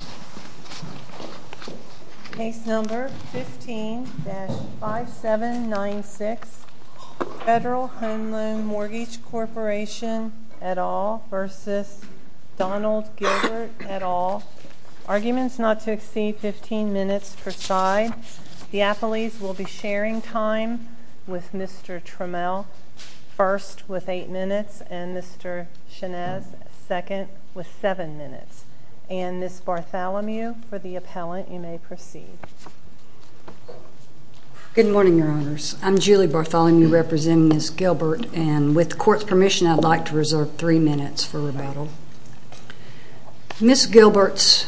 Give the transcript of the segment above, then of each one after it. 15-5796 Federal Home Loan Mortgage Corporation v. Donald Gilbert Arguments not to exceed 15 minutes per side. The appellees will be sharing time with Mr. Trammell, first with 8 minutes, and Mr. Shenez, second, with 7 minutes. And Ms. Bartholomew, for the appellant, you may proceed. Good morning, Your Honors. I'm Julie Bartholomew, representing Ms. Gilbert, and with court's permission, I'd like to reserve 3 minutes for rebuttal. Ms. Gilbert's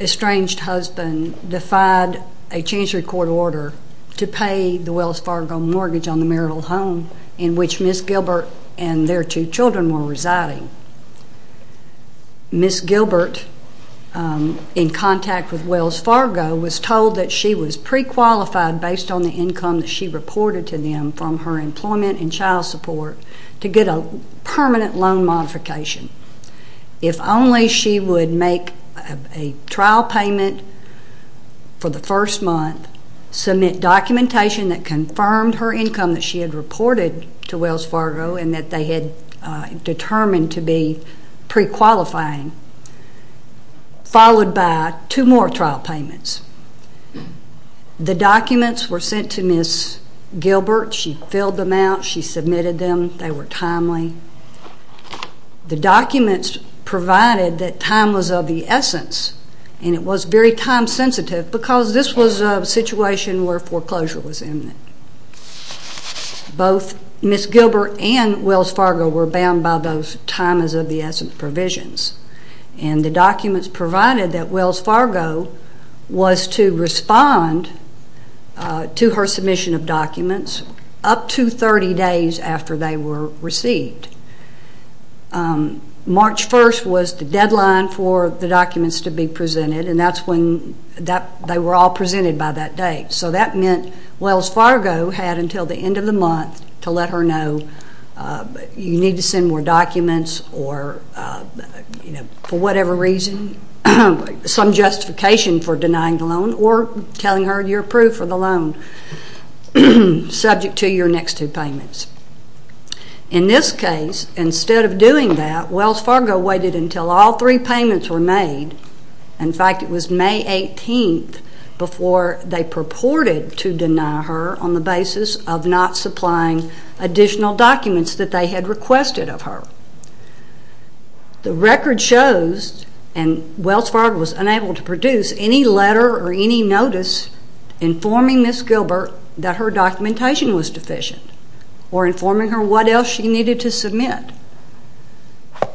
estranged husband defied a Chancery Court order to pay the Wells Fargo mortgage on the marital home in which Ms. Gilbert and their two children were residing. Ms. Gilbert, in contact with Wells Fargo, was told that she was pre-qualified based on the income that she reported to them from her employment and child support to get a permanent loan modification. If only she would make a trial payment for the first month, submit documentation that confirmed her income that she had reported to Wells Fargo and that they had determined to be pre-qualifying, followed by two more trial payments. The documents were sent to Ms. Gilbert. She filled them out. She submitted them. They were timely. The documents provided that time was of the essence, and it was very time sensitive, because this was a situation where foreclosure was imminent. Both Ms. Gilbert and Wells Fargo were bound by those time is of the essence provisions, and the documents provided that Wells Fargo was to respond to her submission of documents up to 30 days after they were received. March 1st was the deadline for the documents to be presented, and that's when they were all presented by that date. So that meant Wells Fargo had until the end of the month to let her know, you need to send more documents or, for whatever reason, some justification for denying the loan or telling her you're approved for the loan, subject to your next two payments. In this case, instead of doing that, Wells Fargo waited until all three payments were made. In fact, it was May 18th before they purported to deny her on the basis of not supplying additional documents that they had requested of her. The record shows, and Wells Fargo was unable to produce any letter or any notice informing Ms. Gilbert that her documentation was deficient or informing her what else she needed to submit.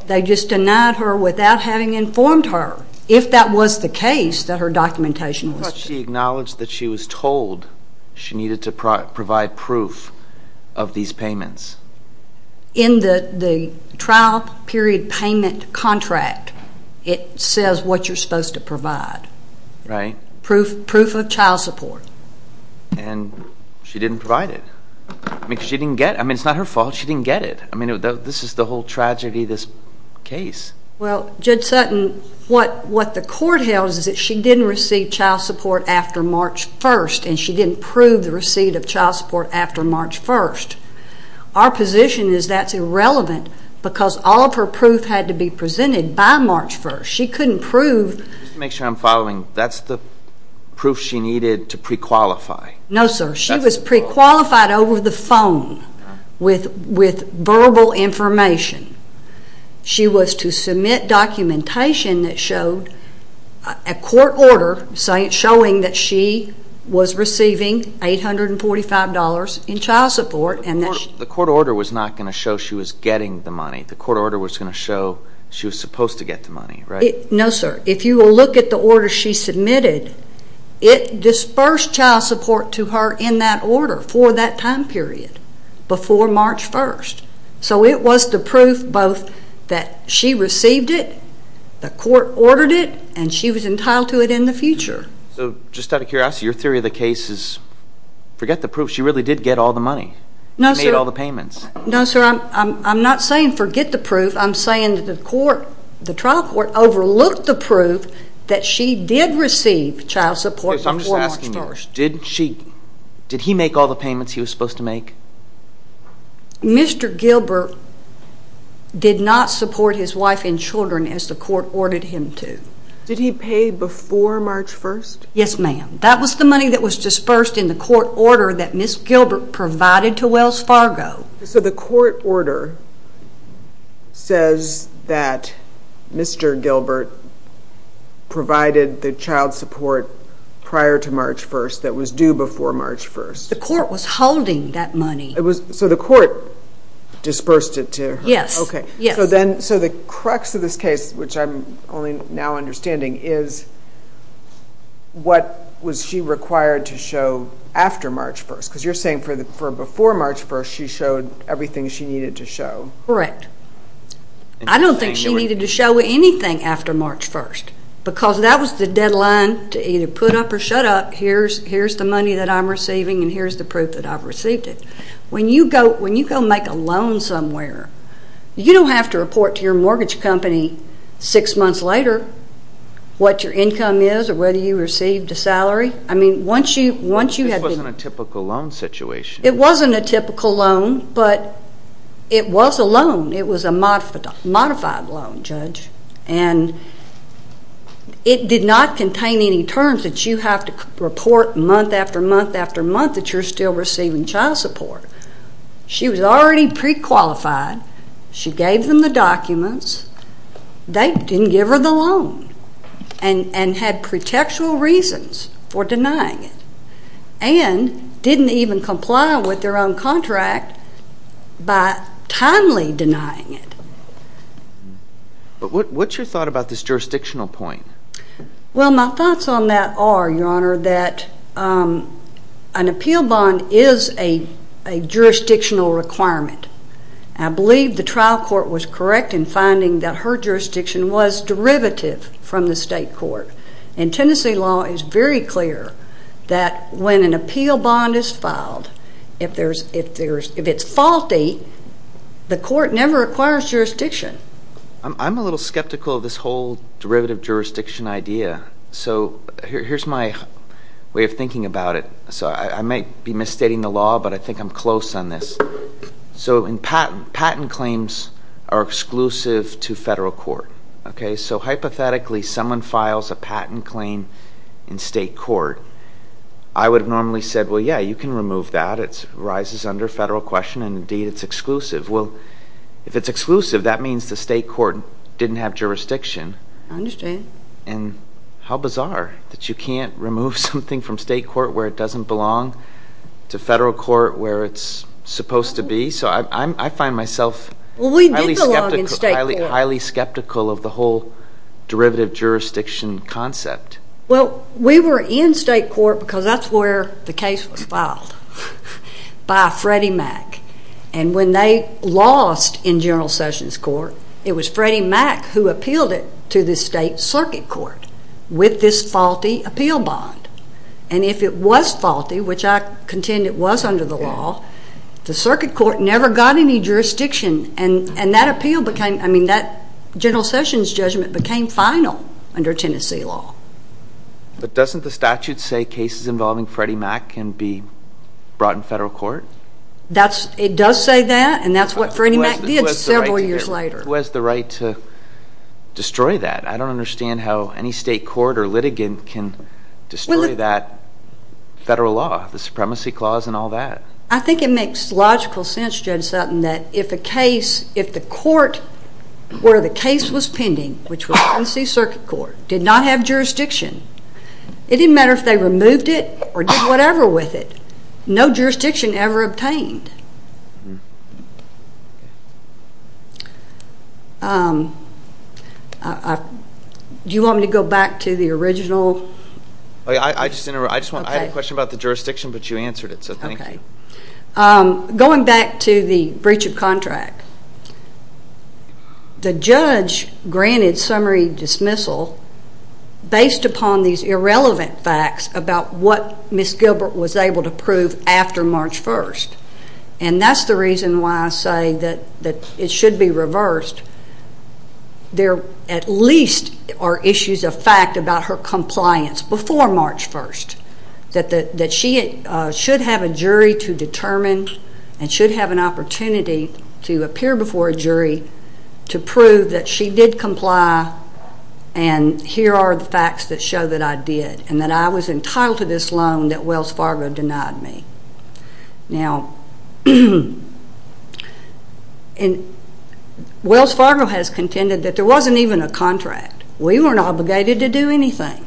They just denied her without having informed her, if that was the case, that her documentation was deficient. She acknowledged that she was told she needed to provide proof of these payments. In the trial period payment contract, it says what you're supposed to provide. Right. Proof of child support. And she didn't provide it. I mean, it's not her fault she didn't get it. I mean, this is the whole tragedy of this case. Well, Judge Sutton, what the court held is that she didn't receive child support after March 1st, and she didn't prove the receipt of child support after March 1st. Our position is that's irrelevant because all of her proof had to be presented by March 1st. She couldn't prove. Just to make sure I'm following, that's the proof she needed to prequalify? No, sir. She was prequalified over the phone with verbal information. She was to submit documentation that showed a court order showing that she was receiving $845 in child support. The court order was not going to show she was getting the money. The court order was going to show she was supposed to get the money, right? No, sir. If you will look at the order she submitted, it dispersed child support to her in that order for that time period before March 1st. So it was the proof both that she received it, the court ordered it, and she was entitled to it in the future. So just out of curiosity, your theory of the case is forget the proof. She really did get all the money. She made all the payments. I'm not saying forget the proof. I'm saying that the trial court overlooked the proof that she did receive child support before March 1st. I'm just asking you, did he make all the payments he was supposed to make? Mr. Gilbert did not support his wife and children as the court ordered him to. Did he pay before March 1st? Yes, ma'am. That was the money that was dispersed in the court order that Ms. Gilbert provided to Wells Fargo. So the court order says that Mr. Gilbert provided the child support prior to March 1st that was due before March 1st. The court was holding that money. So the court dispersed it to her. Yes. So the crux of this case, which I'm only now understanding, is what was she required to show after March 1st? Because you're saying before March 1st she showed everything she needed to show. Correct. I don't think she needed to show anything after March 1st because that was the deadline to either put up or shut up. Here's the money that I'm receiving and here's the proof that I've received it. When you go make a loan somewhere, you don't have to report to your mortgage company six months later what your income is or whether you received a salary. This wasn't a typical loan situation. It wasn't a typical loan, but it was a loan. It was a modified loan, Judge. And it did not contain any terms that you have to report month after month after month that you're still receiving child support. She was already pre-qualified. She gave them the documents. They didn't give her the loan and had pretextual reasons for denying it and didn't even comply with their own contract by timely denying it. But what's your thought about this jurisdictional point? Well, my thoughts on that are, Your Honor, that an appeal bond is a jurisdictional requirement. I believe the trial court was correct in finding that her jurisdiction was derivative from the state court. And Tennessee law is very clear that when an appeal bond is filed, if it's faulty, the court never acquires jurisdiction. I'm a little skeptical of this whole derivative jurisdiction idea. So here's my way of thinking about it. So I might be misstating the law, but I think I'm close on this. So patent claims are exclusive to federal court. Okay? So hypothetically, someone files a patent claim in state court. I would have normally said, well, yeah, you can remove that. It arises under federal question, and indeed, it's exclusive. Well, if it's exclusive, that means the state court didn't have jurisdiction. I understand. And how bizarre that you can't remove something from state court where it doesn't belong to federal court where it's supposed to be. So I find myself highly skeptical of the whole derivative jurisdiction concept. Well, we were in state court because that's where the case was filed by Freddie Mac. And when they lost in General Sessions' court, it was Freddie Mac who appealed it to the state circuit court with this faulty appeal bond. And if it was faulty, which I contend it was under the law, the circuit court never got any jurisdiction. And that appeal became – I mean that General Sessions' judgment became final under Tennessee law. But doesn't the statute say cases involving Freddie Mac can be brought in federal court? It does say that, and that's what Freddie Mac did several years later. Who has the right to destroy that? I don't understand how any state court or litigant can destroy that federal law, the supremacy clause and all that. I think it makes logical sense, Judge Sutton, that if a case – if the court where the case was pending, which was Tennessee circuit court, did not have jurisdiction, it didn't matter if they removed it or did whatever with it. No jurisdiction ever obtained. Do you want me to go back to the original? I had a question about the jurisdiction, but you answered it, so thank you. Going back to the breach of contract, the judge granted summary dismissal based upon these irrelevant facts about what Ms. Gilbert was able to prove after March 1st. And that's the reason why I say that it should be reversed. There at least are issues of fact about her compliance before March 1st that she should have a jury to determine and should have an opportunity to appear before a jury to prove that she did comply and here are the facts that show that I did and that I was entitled to this loan that Wells Fargo denied me. Now, Wells Fargo has contended that there wasn't even a contract. We weren't obligated to do anything.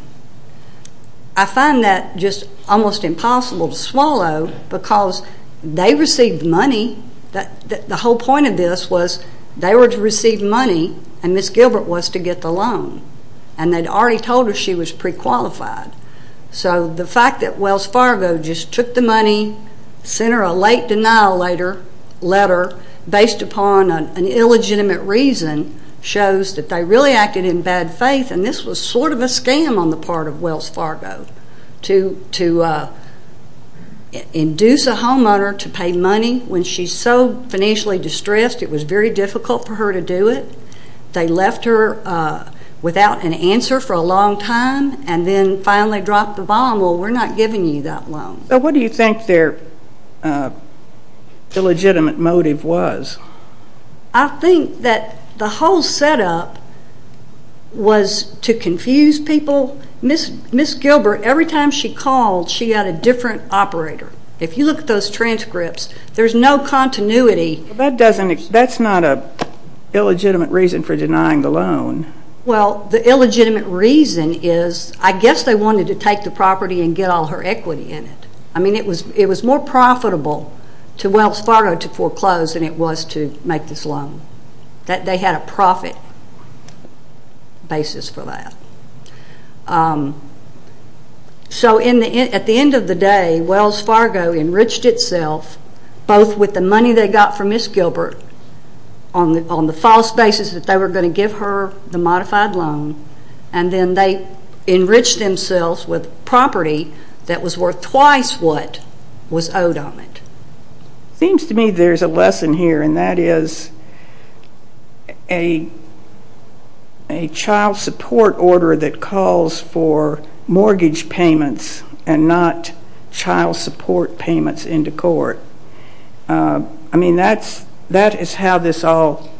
I find that just almost impossible to swallow because they received money. The whole point of this was they were to receive money and Ms. Gilbert was to get the loan. And they'd already told her she was prequalified. So the fact that Wells Fargo just took the money, sent her a late denial letter based upon an illegitimate reason shows that they really acted in bad faith and this was sort of a scam on the part of Wells Fargo to induce a homeowner to pay money when she's so financially distressed it was very difficult for her to do it. They left her without an answer for a long time and then finally dropped the bomb, well, we're not giving you that loan. So what do you think their illegitimate motive was? I think that the whole setup was to confuse people. Ms. Gilbert, every time she called, she had a different operator. If you look at those transcripts, there's no continuity. That's not an illegitimate reason for denying the loan. Well, the illegitimate reason is I guess they wanted to take the property and get all her equity in it. I mean, it was more profitable to Wells Fargo to foreclose than it was to make this loan. They had a profit basis for that. So at the end of the day, Wells Fargo enriched itself both with the money they got from Ms. Gilbert on the false basis that they were going to give her the modified loan and then they enriched themselves with property that was worth twice what was owed on it. It seems to me there's a lesson here, and that is a child support order that calls for mortgage payments and not child support payments into court. I mean, that is how this all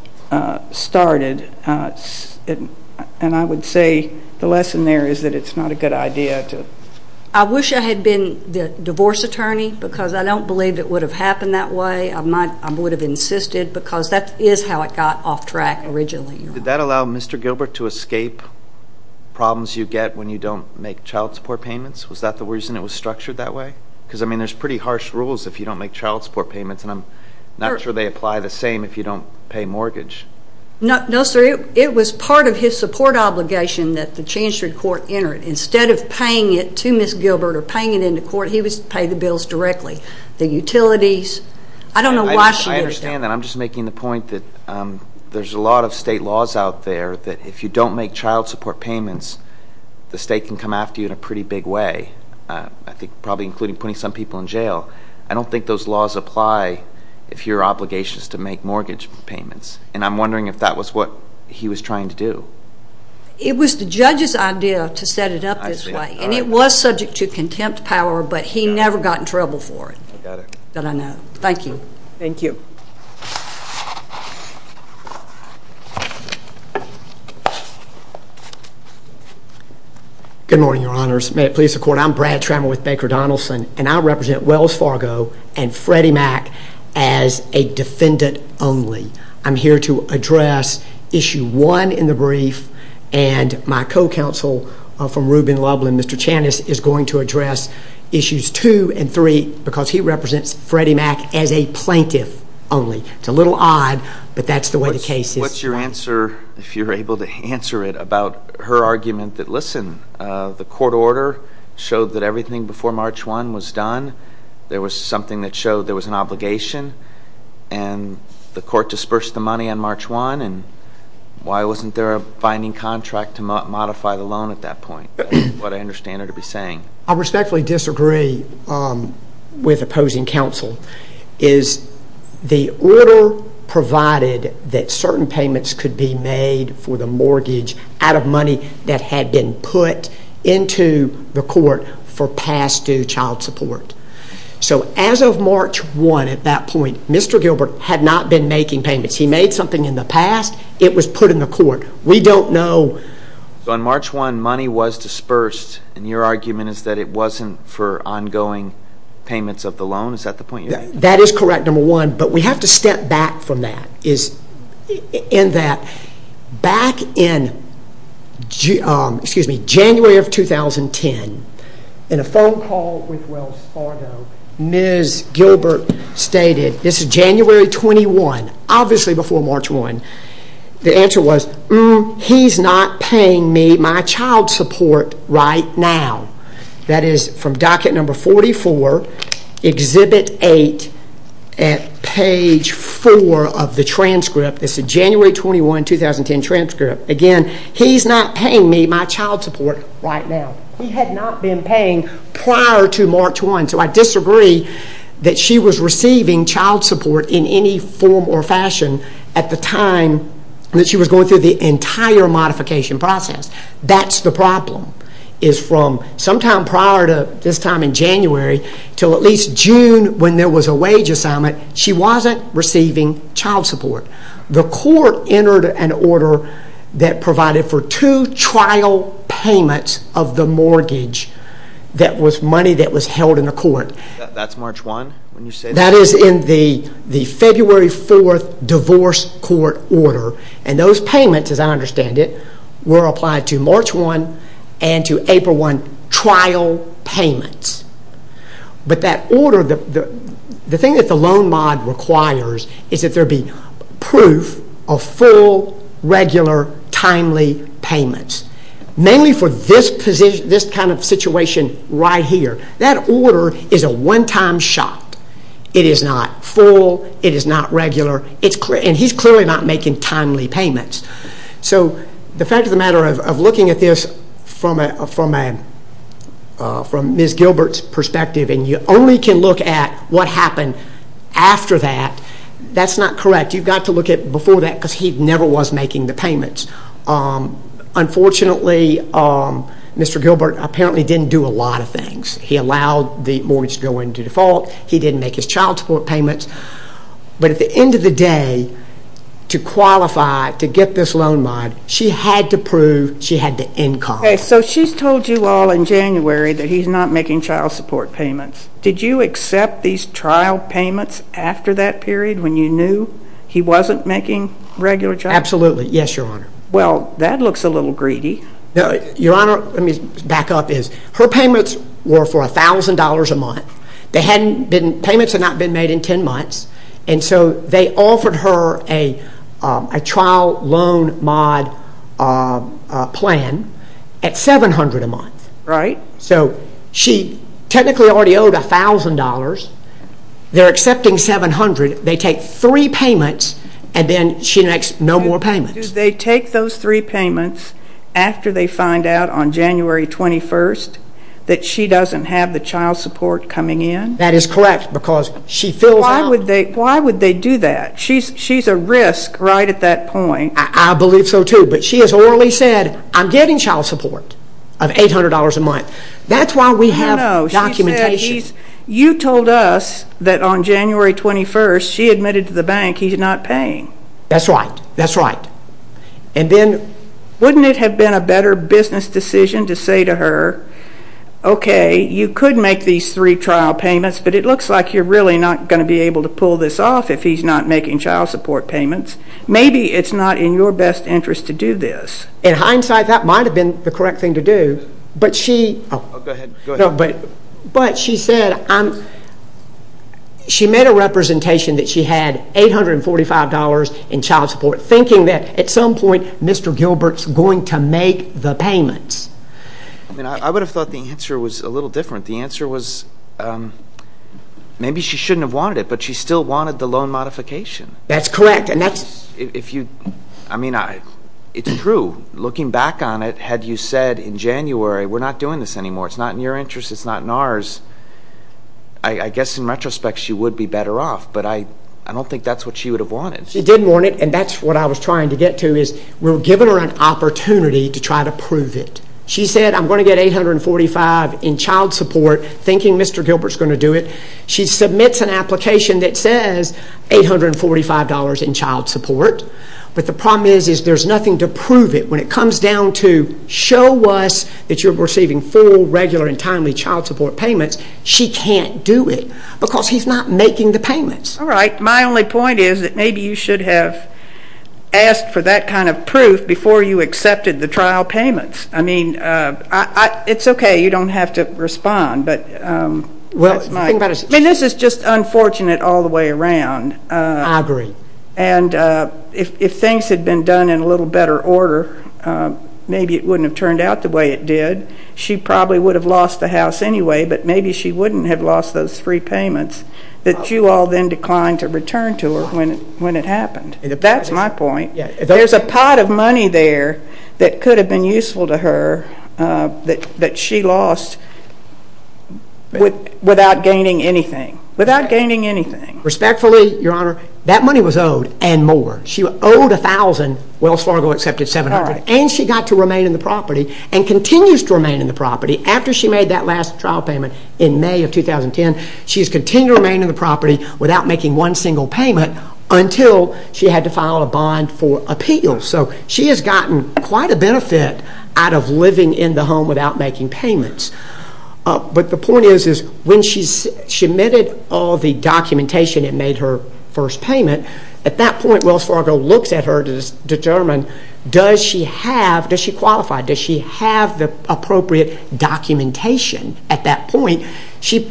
started, and I would say the lesson there is that it's not a good idea. I wish I had been the divorce attorney because I don't believe it would have happened that way. I would have insisted because that is how it got off track originally. Did that allow Mr. Gilbert to escape problems you get when you don't make child support payments? Was that the reason it was structured that way? Because, I mean, there's pretty harsh rules if you don't make child support payments, and I'm not sure they apply the same if you don't pay mortgage. No, sir. It was part of his support obligation that the Chancellor of Court enter it. Instead of paying it to Ms. Gilbert or paying it into court, he was to pay the bills directly. The utilities, I don't know why she did it that way. I understand that. I'm just making the point that there's a lot of state laws out there that if you don't make child support payments, the state can come after you in a pretty big way, I think probably including putting some people in jail. I don't think those laws apply if your obligation is to make mortgage payments, and I'm wondering if that was what he was trying to do. It was the judge's idea to set it up this way. I see. All right. And it was subject to contempt power, but he never got in trouble for it. I got it. That I know. Thank you. Thank you. Good morning, Your Honors. May it please the Court, I'm Brad Trammell with Baker Donaldson, and I represent Wells Fargo and Freddie Mac as a defendant only. I'm here to address issue one in the brief, and my co-counsel from Rubin Lublin, Mr. Channis, is going to address issues two and three because he represents Freddie Mac as a plaintiff only. It's a little odd, but that's the way the case is. What's your answer, if you're able to answer it, about her argument that, listen, the court order showed that everything before March 1 was done. There was something that showed there was an obligation, and the court disbursed the money on March 1, and why wasn't there a binding contract to modify the loan at that point, is what I understand her to be saying. I respectfully disagree with opposing counsel. The order provided that certain payments could be made for the mortgage out of money that had been put into the court for past-due child support. So as of March 1 at that point, Mr. Gilbert had not been making payments. He made something in the past. It was put in the court. We don't know. So on March 1, money was dispersed, and your argument is that it wasn't for ongoing payments of the loan? Is that the point you're making? That is correct, number one, but we have to step back from that, in that back in January of 2010, in a phone call with Wells Fargo, Ms. Gilbert stated, this is January 21, obviously before March 1. The answer was, he's not paying me my child support right now. That is from docket number 44, exhibit 8 at page 4 of the transcript. It's a January 21, 2010 transcript. Again, he's not paying me my child support right now. He had not been paying prior to March 1, so I disagree that she was receiving child support in any form or fashion at the time that she was going through the entire modification process. That's the problem, is from sometime prior to this time in January until at least June when there was a wage assignment, she wasn't receiving child support. The court entered an order that provided for two trial payments of the mortgage that was money that was held in the court. That's March 1 when you said that? That is in the February 4 divorce court order, and those payments, as I understand it, were applied to March 1 and to April 1 trial payments. But that order, the thing that the loan mod requires is that there be proof of full, regular, timely payments, mainly for this kind of situation right here. That order is a one-time shot. It is not full. It is not regular. He is clearly not making timely payments. The fact of the matter of looking at this from Ms. Gilbert's perspective, and you only can look at what happened after that, that's not correct. You've got to look at before that because he never was making the payments. Unfortunately, Mr. Gilbert apparently didn't do a lot of things. He allowed the mortgage to go into default. He didn't make his child support payments. But at the end of the day, to qualify to get this loan mod, she had to prove she had the income. So she's told you all in January that he's not making child support payments. Did you accept these trial payments after that period when you knew he wasn't making regular child support payments? Absolutely. Yes, Your Honor. Well, that looks a little greedy. Your Honor, let me back up. Her payments were for $1,000 a month. Payments had not been made in 10 months, and so they offered her a trial loan mod plan at $700 a month. Right. So she technically already owed $1,000. They're accepting $700. They take three payments, and then she makes no more payments. Do they take those three payments after they find out on January 21 that she doesn't have the child support coming in? That is correct, because she fills out. Why would they do that? She's a risk right at that point. I believe so, too. But she has orally said, I'm getting child support of $800 a month. That's why we have documentation. No, no. She said you told us that on January 21 she admitted to the bank he's not paying. That's right. That's right. And then wouldn't it have been a better business decision to say to her, okay, you could make these three trial payments, but it looks like you're really not going to be able to pull this off if he's not making child support payments. Maybe it's not in your best interest to do this. In hindsight, that might have been the correct thing to do. But she said she made a representation that she had $845 in child support, thinking that at some point Mr. Gilbert's going to make the payments. I would have thought the answer was a little different. The answer was maybe she shouldn't have wanted it, but she still wanted the loan modification. That's correct. I mean, it's true. Looking back on it, had you said in January, we're not doing this anymore. It's not in your interest. It's not in ours. I guess in retrospect she would be better off, but I don't think that's what she would have wanted. She didn't want it, and that's what I was trying to get to, is we're giving her an opportunity to try to prove it. She said, I'm going to get $845 in child support, thinking Mr. Gilbert's going to do it. She submits an application that says $845 in child support, but the problem is there's nothing to prove it. When it comes down to show us that you're receiving full, regular, and timely child support payments, she can't do it because he's not making the payments. All right. My only point is that maybe you should have asked for that kind of proof before you accepted the trial payments. I mean, it's okay. You don't have to respond. I mean, this is just unfortunate all the way around. I agree. And if things had been done in a little better order, maybe it wouldn't have turned out the way it did. She probably would have lost the house anyway, but maybe she wouldn't have lost those free payments that you all then declined to return to her when it happened. That's my point. There's a pot of money there that could have been useful to her that she lost without gaining anything, without gaining anything. Respectfully, Your Honor, that money was owed and more. She owed $1,000, Wells Fargo accepted $700, and she got to remain in the property and continues to remain in the property. After she made that last trial payment in May of 2010, she has continued to remain in the property without making one single payment until she had to file a bond for appeal. So she has gotten quite a benefit out of living in the home without making payments. But the point is when she submitted all the documentation and made her first payment, at that point Wells Fargo looks at her to determine does she have, does she qualify, does she have the appropriate documentation at that point. She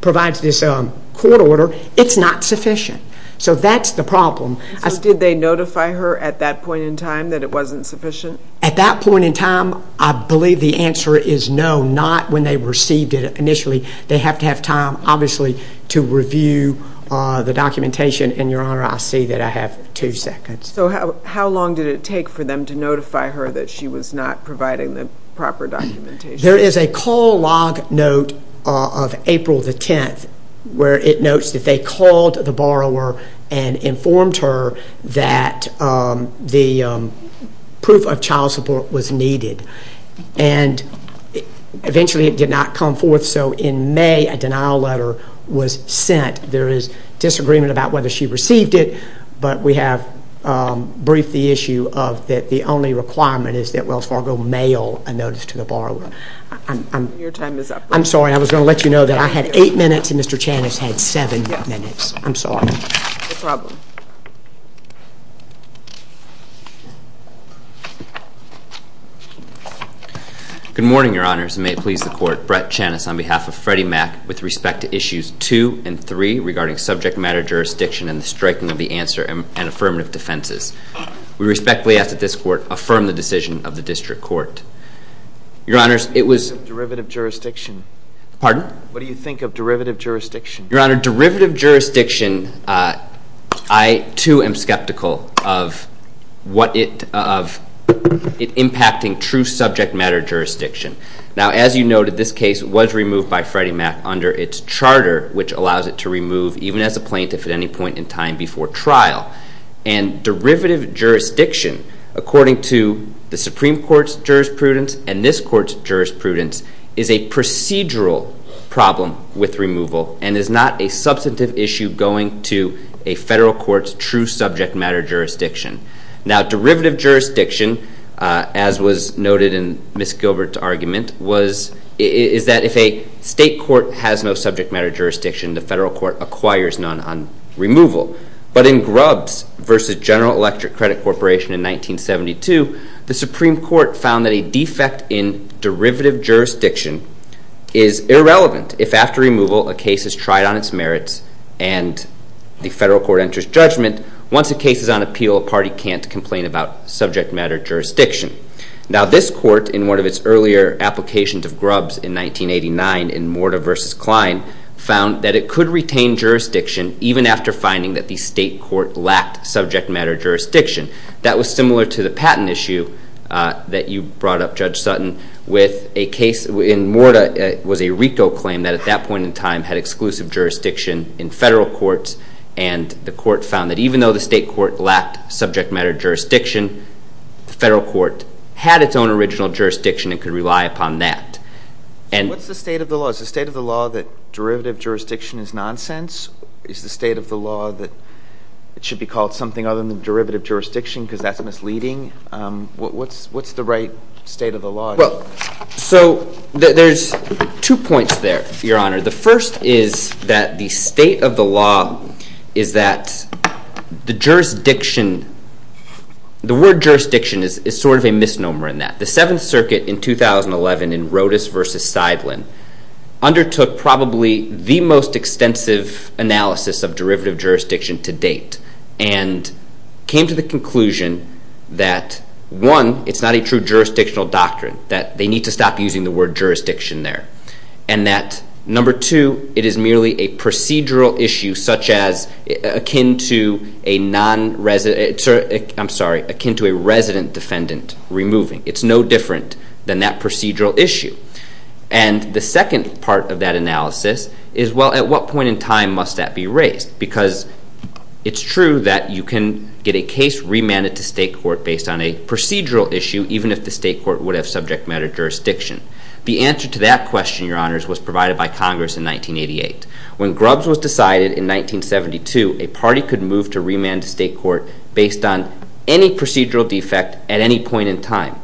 provides this court order. It's not sufficient. So that's the problem. So did they notify her at that point in time that it wasn't sufficient? At that point in time, I believe the answer is no, not when they received it initially. They have to have time, obviously, to review the documentation. And, Your Honor, I see that I have two seconds. So how long did it take for them to notify her that she was not providing the proper documentation? There is a call log note of April the 10th where it notes that they called the borrower and informed her that the proof of child support was needed. And eventually it did not come forth. So in May a denial letter was sent. There is disagreement about whether she received it, but we have briefed the issue of that the only requirement is that Your time is up. I'm sorry. I was going to let you know that I had eight minutes and Mr. Channis had seven minutes. I'm sorry. No problem. Good morning, Your Honors, and may it please the Court, Brett Channis on behalf of Freddie Mac with respect to issues two and three regarding subject matter jurisdiction and the striking of the answer and affirmative defenses. We respectfully ask that this Court affirm the decision of the District Court. Your Honors, it was... What do you think of derivative jurisdiction? Pardon? What do you think of derivative jurisdiction? Your Honor, derivative jurisdiction, I too am skeptical of it impacting true subject matter jurisdiction. Now, as you noted, this case was removed by Freddie Mac under its charter, which allows it to remove even as a plaintiff at any point in time before trial. And derivative jurisdiction, according to the Supreme Court's jurisprudence and this Court's jurisprudence, is a procedural problem with removal and is not a substantive issue going to a federal court's true subject matter jurisdiction. Now, derivative jurisdiction, as was noted in Ms. Gilbert's argument, is that if a state court has no subject matter jurisdiction, the federal court acquires none on removal. But in Grubbs v. General Electric Credit Corporation in 1972, the Supreme Court found that a defect in derivative jurisdiction is irrelevant if after removal a case is tried on its merits and the federal court enters judgment. Once a case is on appeal, a party can't complain about subject matter jurisdiction. Now, this Court, in one of its earlier applications of Grubbs in 1989 in Morta v. Klein, found that it could retain jurisdiction even after finding that the state court lacked subject matter jurisdiction. That was similar to the patent issue that you brought up, Judge Sutton, with a case in Morta. It was a RICO claim that at that point in time had exclusive jurisdiction in federal courts, and the court found that even though the state court lacked subject matter jurisdiction, the federal court had its own original jurisdiction and could rely upon that. What's the state of the law? Is the state of the law that derivative jurisdiction is nonsense? Is the state of the law that it should be called something other than derivative jurisdiction because that's misleading? What's the right state of the law? Well, so there's two points there, Your Honor. The first is that the state of the law is that the word jurisdiction is sort of a misnomer in that. The Seventh Circuit in 2011 in Rodas v. Seidlin undertook probably the most extensive analysis of derivative jurisdiction to date and came to the conclusion that, one, it's not a true jurisdictional doctrine, that they need to stop using the word jurisdiction there, and that, number two, it is merely a procedural issue such as akin to a resident defendant removing. It's no different than that procedural issue. And the second part of that analysis is, well, at what point in time must that be raised? Because it's true that you can get a case remanded to state court based on a procedural issue even if the state court would have subject matter jurisdiction. The answer to that question, Your Honors, was provided by Congress in 1988. When Grubbs was decided in 1972, a party could move to remand to state court based on any procedural defect at any point in time.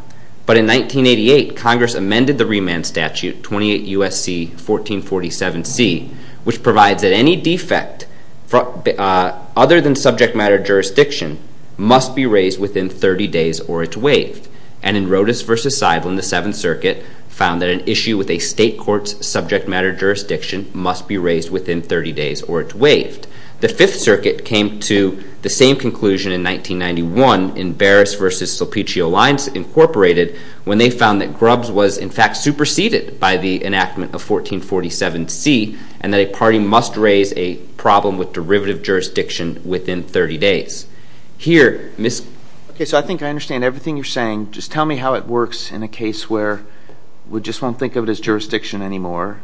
But in 1988, Congress amended the remand statute, 28 U.S.C. 1447C, which provides that any defect other than subject matter jurisdiction must be raised within 30 days or it's waived. And in Rodas v. Seidlin, the Seventh Circuit found that an issue with a state court's subject matter jurisdiction The Fifth Circuit came to the same conclusion in 1991 in Barris v. Sulpicchio Lines, Inc., when they found that Grubbs was, in fact, superseded by the enactment of 1447C and that a party must raise a problem with derivative jurisdiction within 30 days. Here, Ms. Okay, so I think I understand everything you're saying. Just tell me how it works in a case where we just won't think of it as jurisdiction anymore.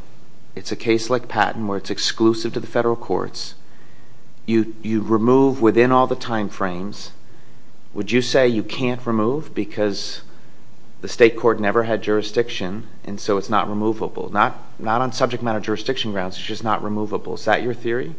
It's a case like Patton where it's exclusive to the federal courts. You remove within all the time frames. Would you say you can't remove because the state court never had jurisdiction and so it's not removable? Not on subject matter jurisdiction grounds. It's just not removable. Is that your theory?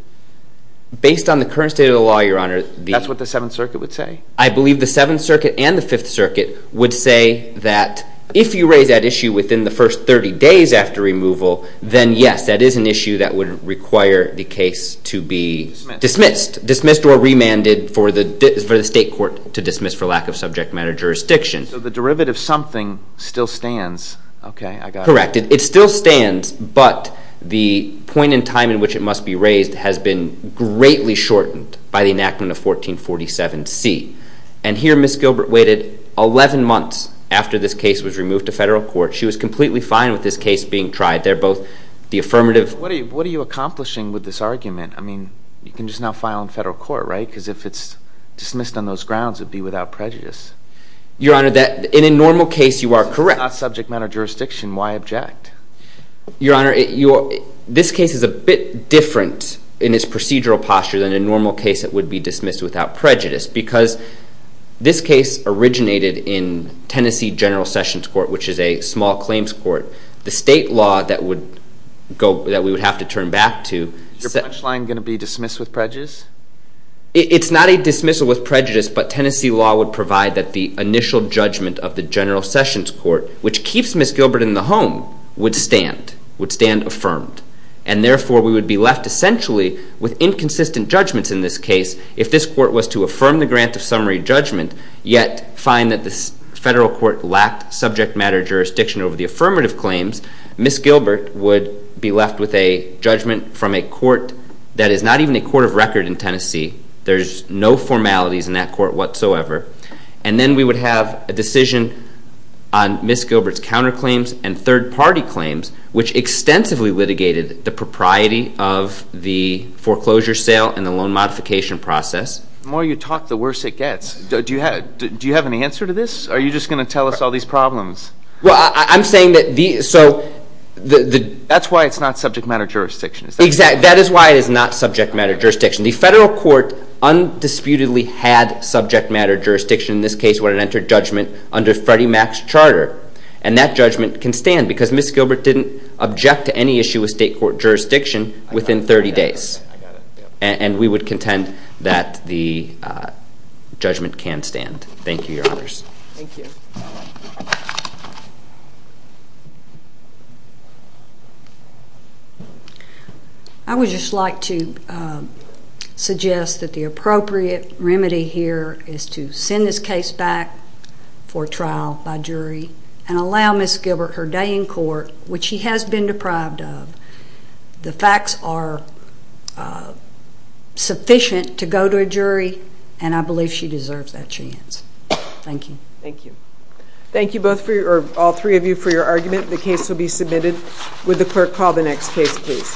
Based on the current state of the law, Your Honor, the That's what the Seventh Circuit would say. I believe the Seventh Circuit and the Fifth Circuit would say that if you raise that issue within the first 30 days after removal, then, yes, that is an issue that would require the case to be Dismissed. Dismissed. Dismissed or remanded for the state court to dismiss for lack of subject matter jurisdiction. So the derivative something still stands. Okay, I got it. Correct. It still stands, but the point in time in which it must be raised has been greatly shortened by the enactment of 1447C. And here Ms. Gilbert waited 11 months after this case was removed to federal court. She was completely fine with this case being tried. They're both the affirmative. What are you accomplishing with this argument? I mean, you can just now file in federal court, right? Because if it's dismissed on those grounds, it would be without prejudice. Your Honor, in a normal case, you are correct. It's not subject matter jurisdiction. Why object? Your Honor, this case is a bit different in its procedural posture than a normal case that would be dismissed without prejudice. Because this case originated in Tennessee General Sessions Court, which is a small claims court. The state law that we would have to turn back to. Is your punchline going to be dismissed with prejudice? It's not a dismissal with prejudice, but Tennessee law would provide that the initial judgment of the General Sessions Court, which keeps Ms. Gilbert in the home, would stand, would stand affirmed. And therefore, we would be left essentially with inconsistent judgments in this case. If this court was to affirm the grant of summary judgment, yet find that the federal court lacked subject matter jurisdiction over the affirmative claims, Ms. Gilbert would be left with a judgment from a court that is not even a court of record in Tennessee. There's no formalities in that court whatsoever. And then we would have a decision on Ms. Gilbert's counterclaims and third-party claims, which extensively litigated the propriety of the foreclosure sale and the loan modification process. The more you talk, the worse it gets. Do you have an answer to this? Or are you just going to tell us all these problems? Well, I'm saying that the— That's why it's not subject matter jurisdiction. Exactly. That is why it is not subject matter jurisdiction. The federal court undisputedly had subject matter jurisdiction in this case when it entered judgment under Freddie Mac's charter. And that judgment can stand because Ms. Gilbert didn't object to any issue with state court jurisdiction within 30 days. And we would contend that the judgment can stand. Thank you, Your Honors. Thank you. I would just like to suggest that the appropriate remedy here is to send this case back for trial by jury and allow Ms. Gilbert her day in court, which she has been deprived of. The facts are sufficient to go to a jury, and I believe she deserves that chance. Thank you. Thank you. Thank you both for your—or all three of you for your argument. The case will be submitted. Would the clerk call the next case, please?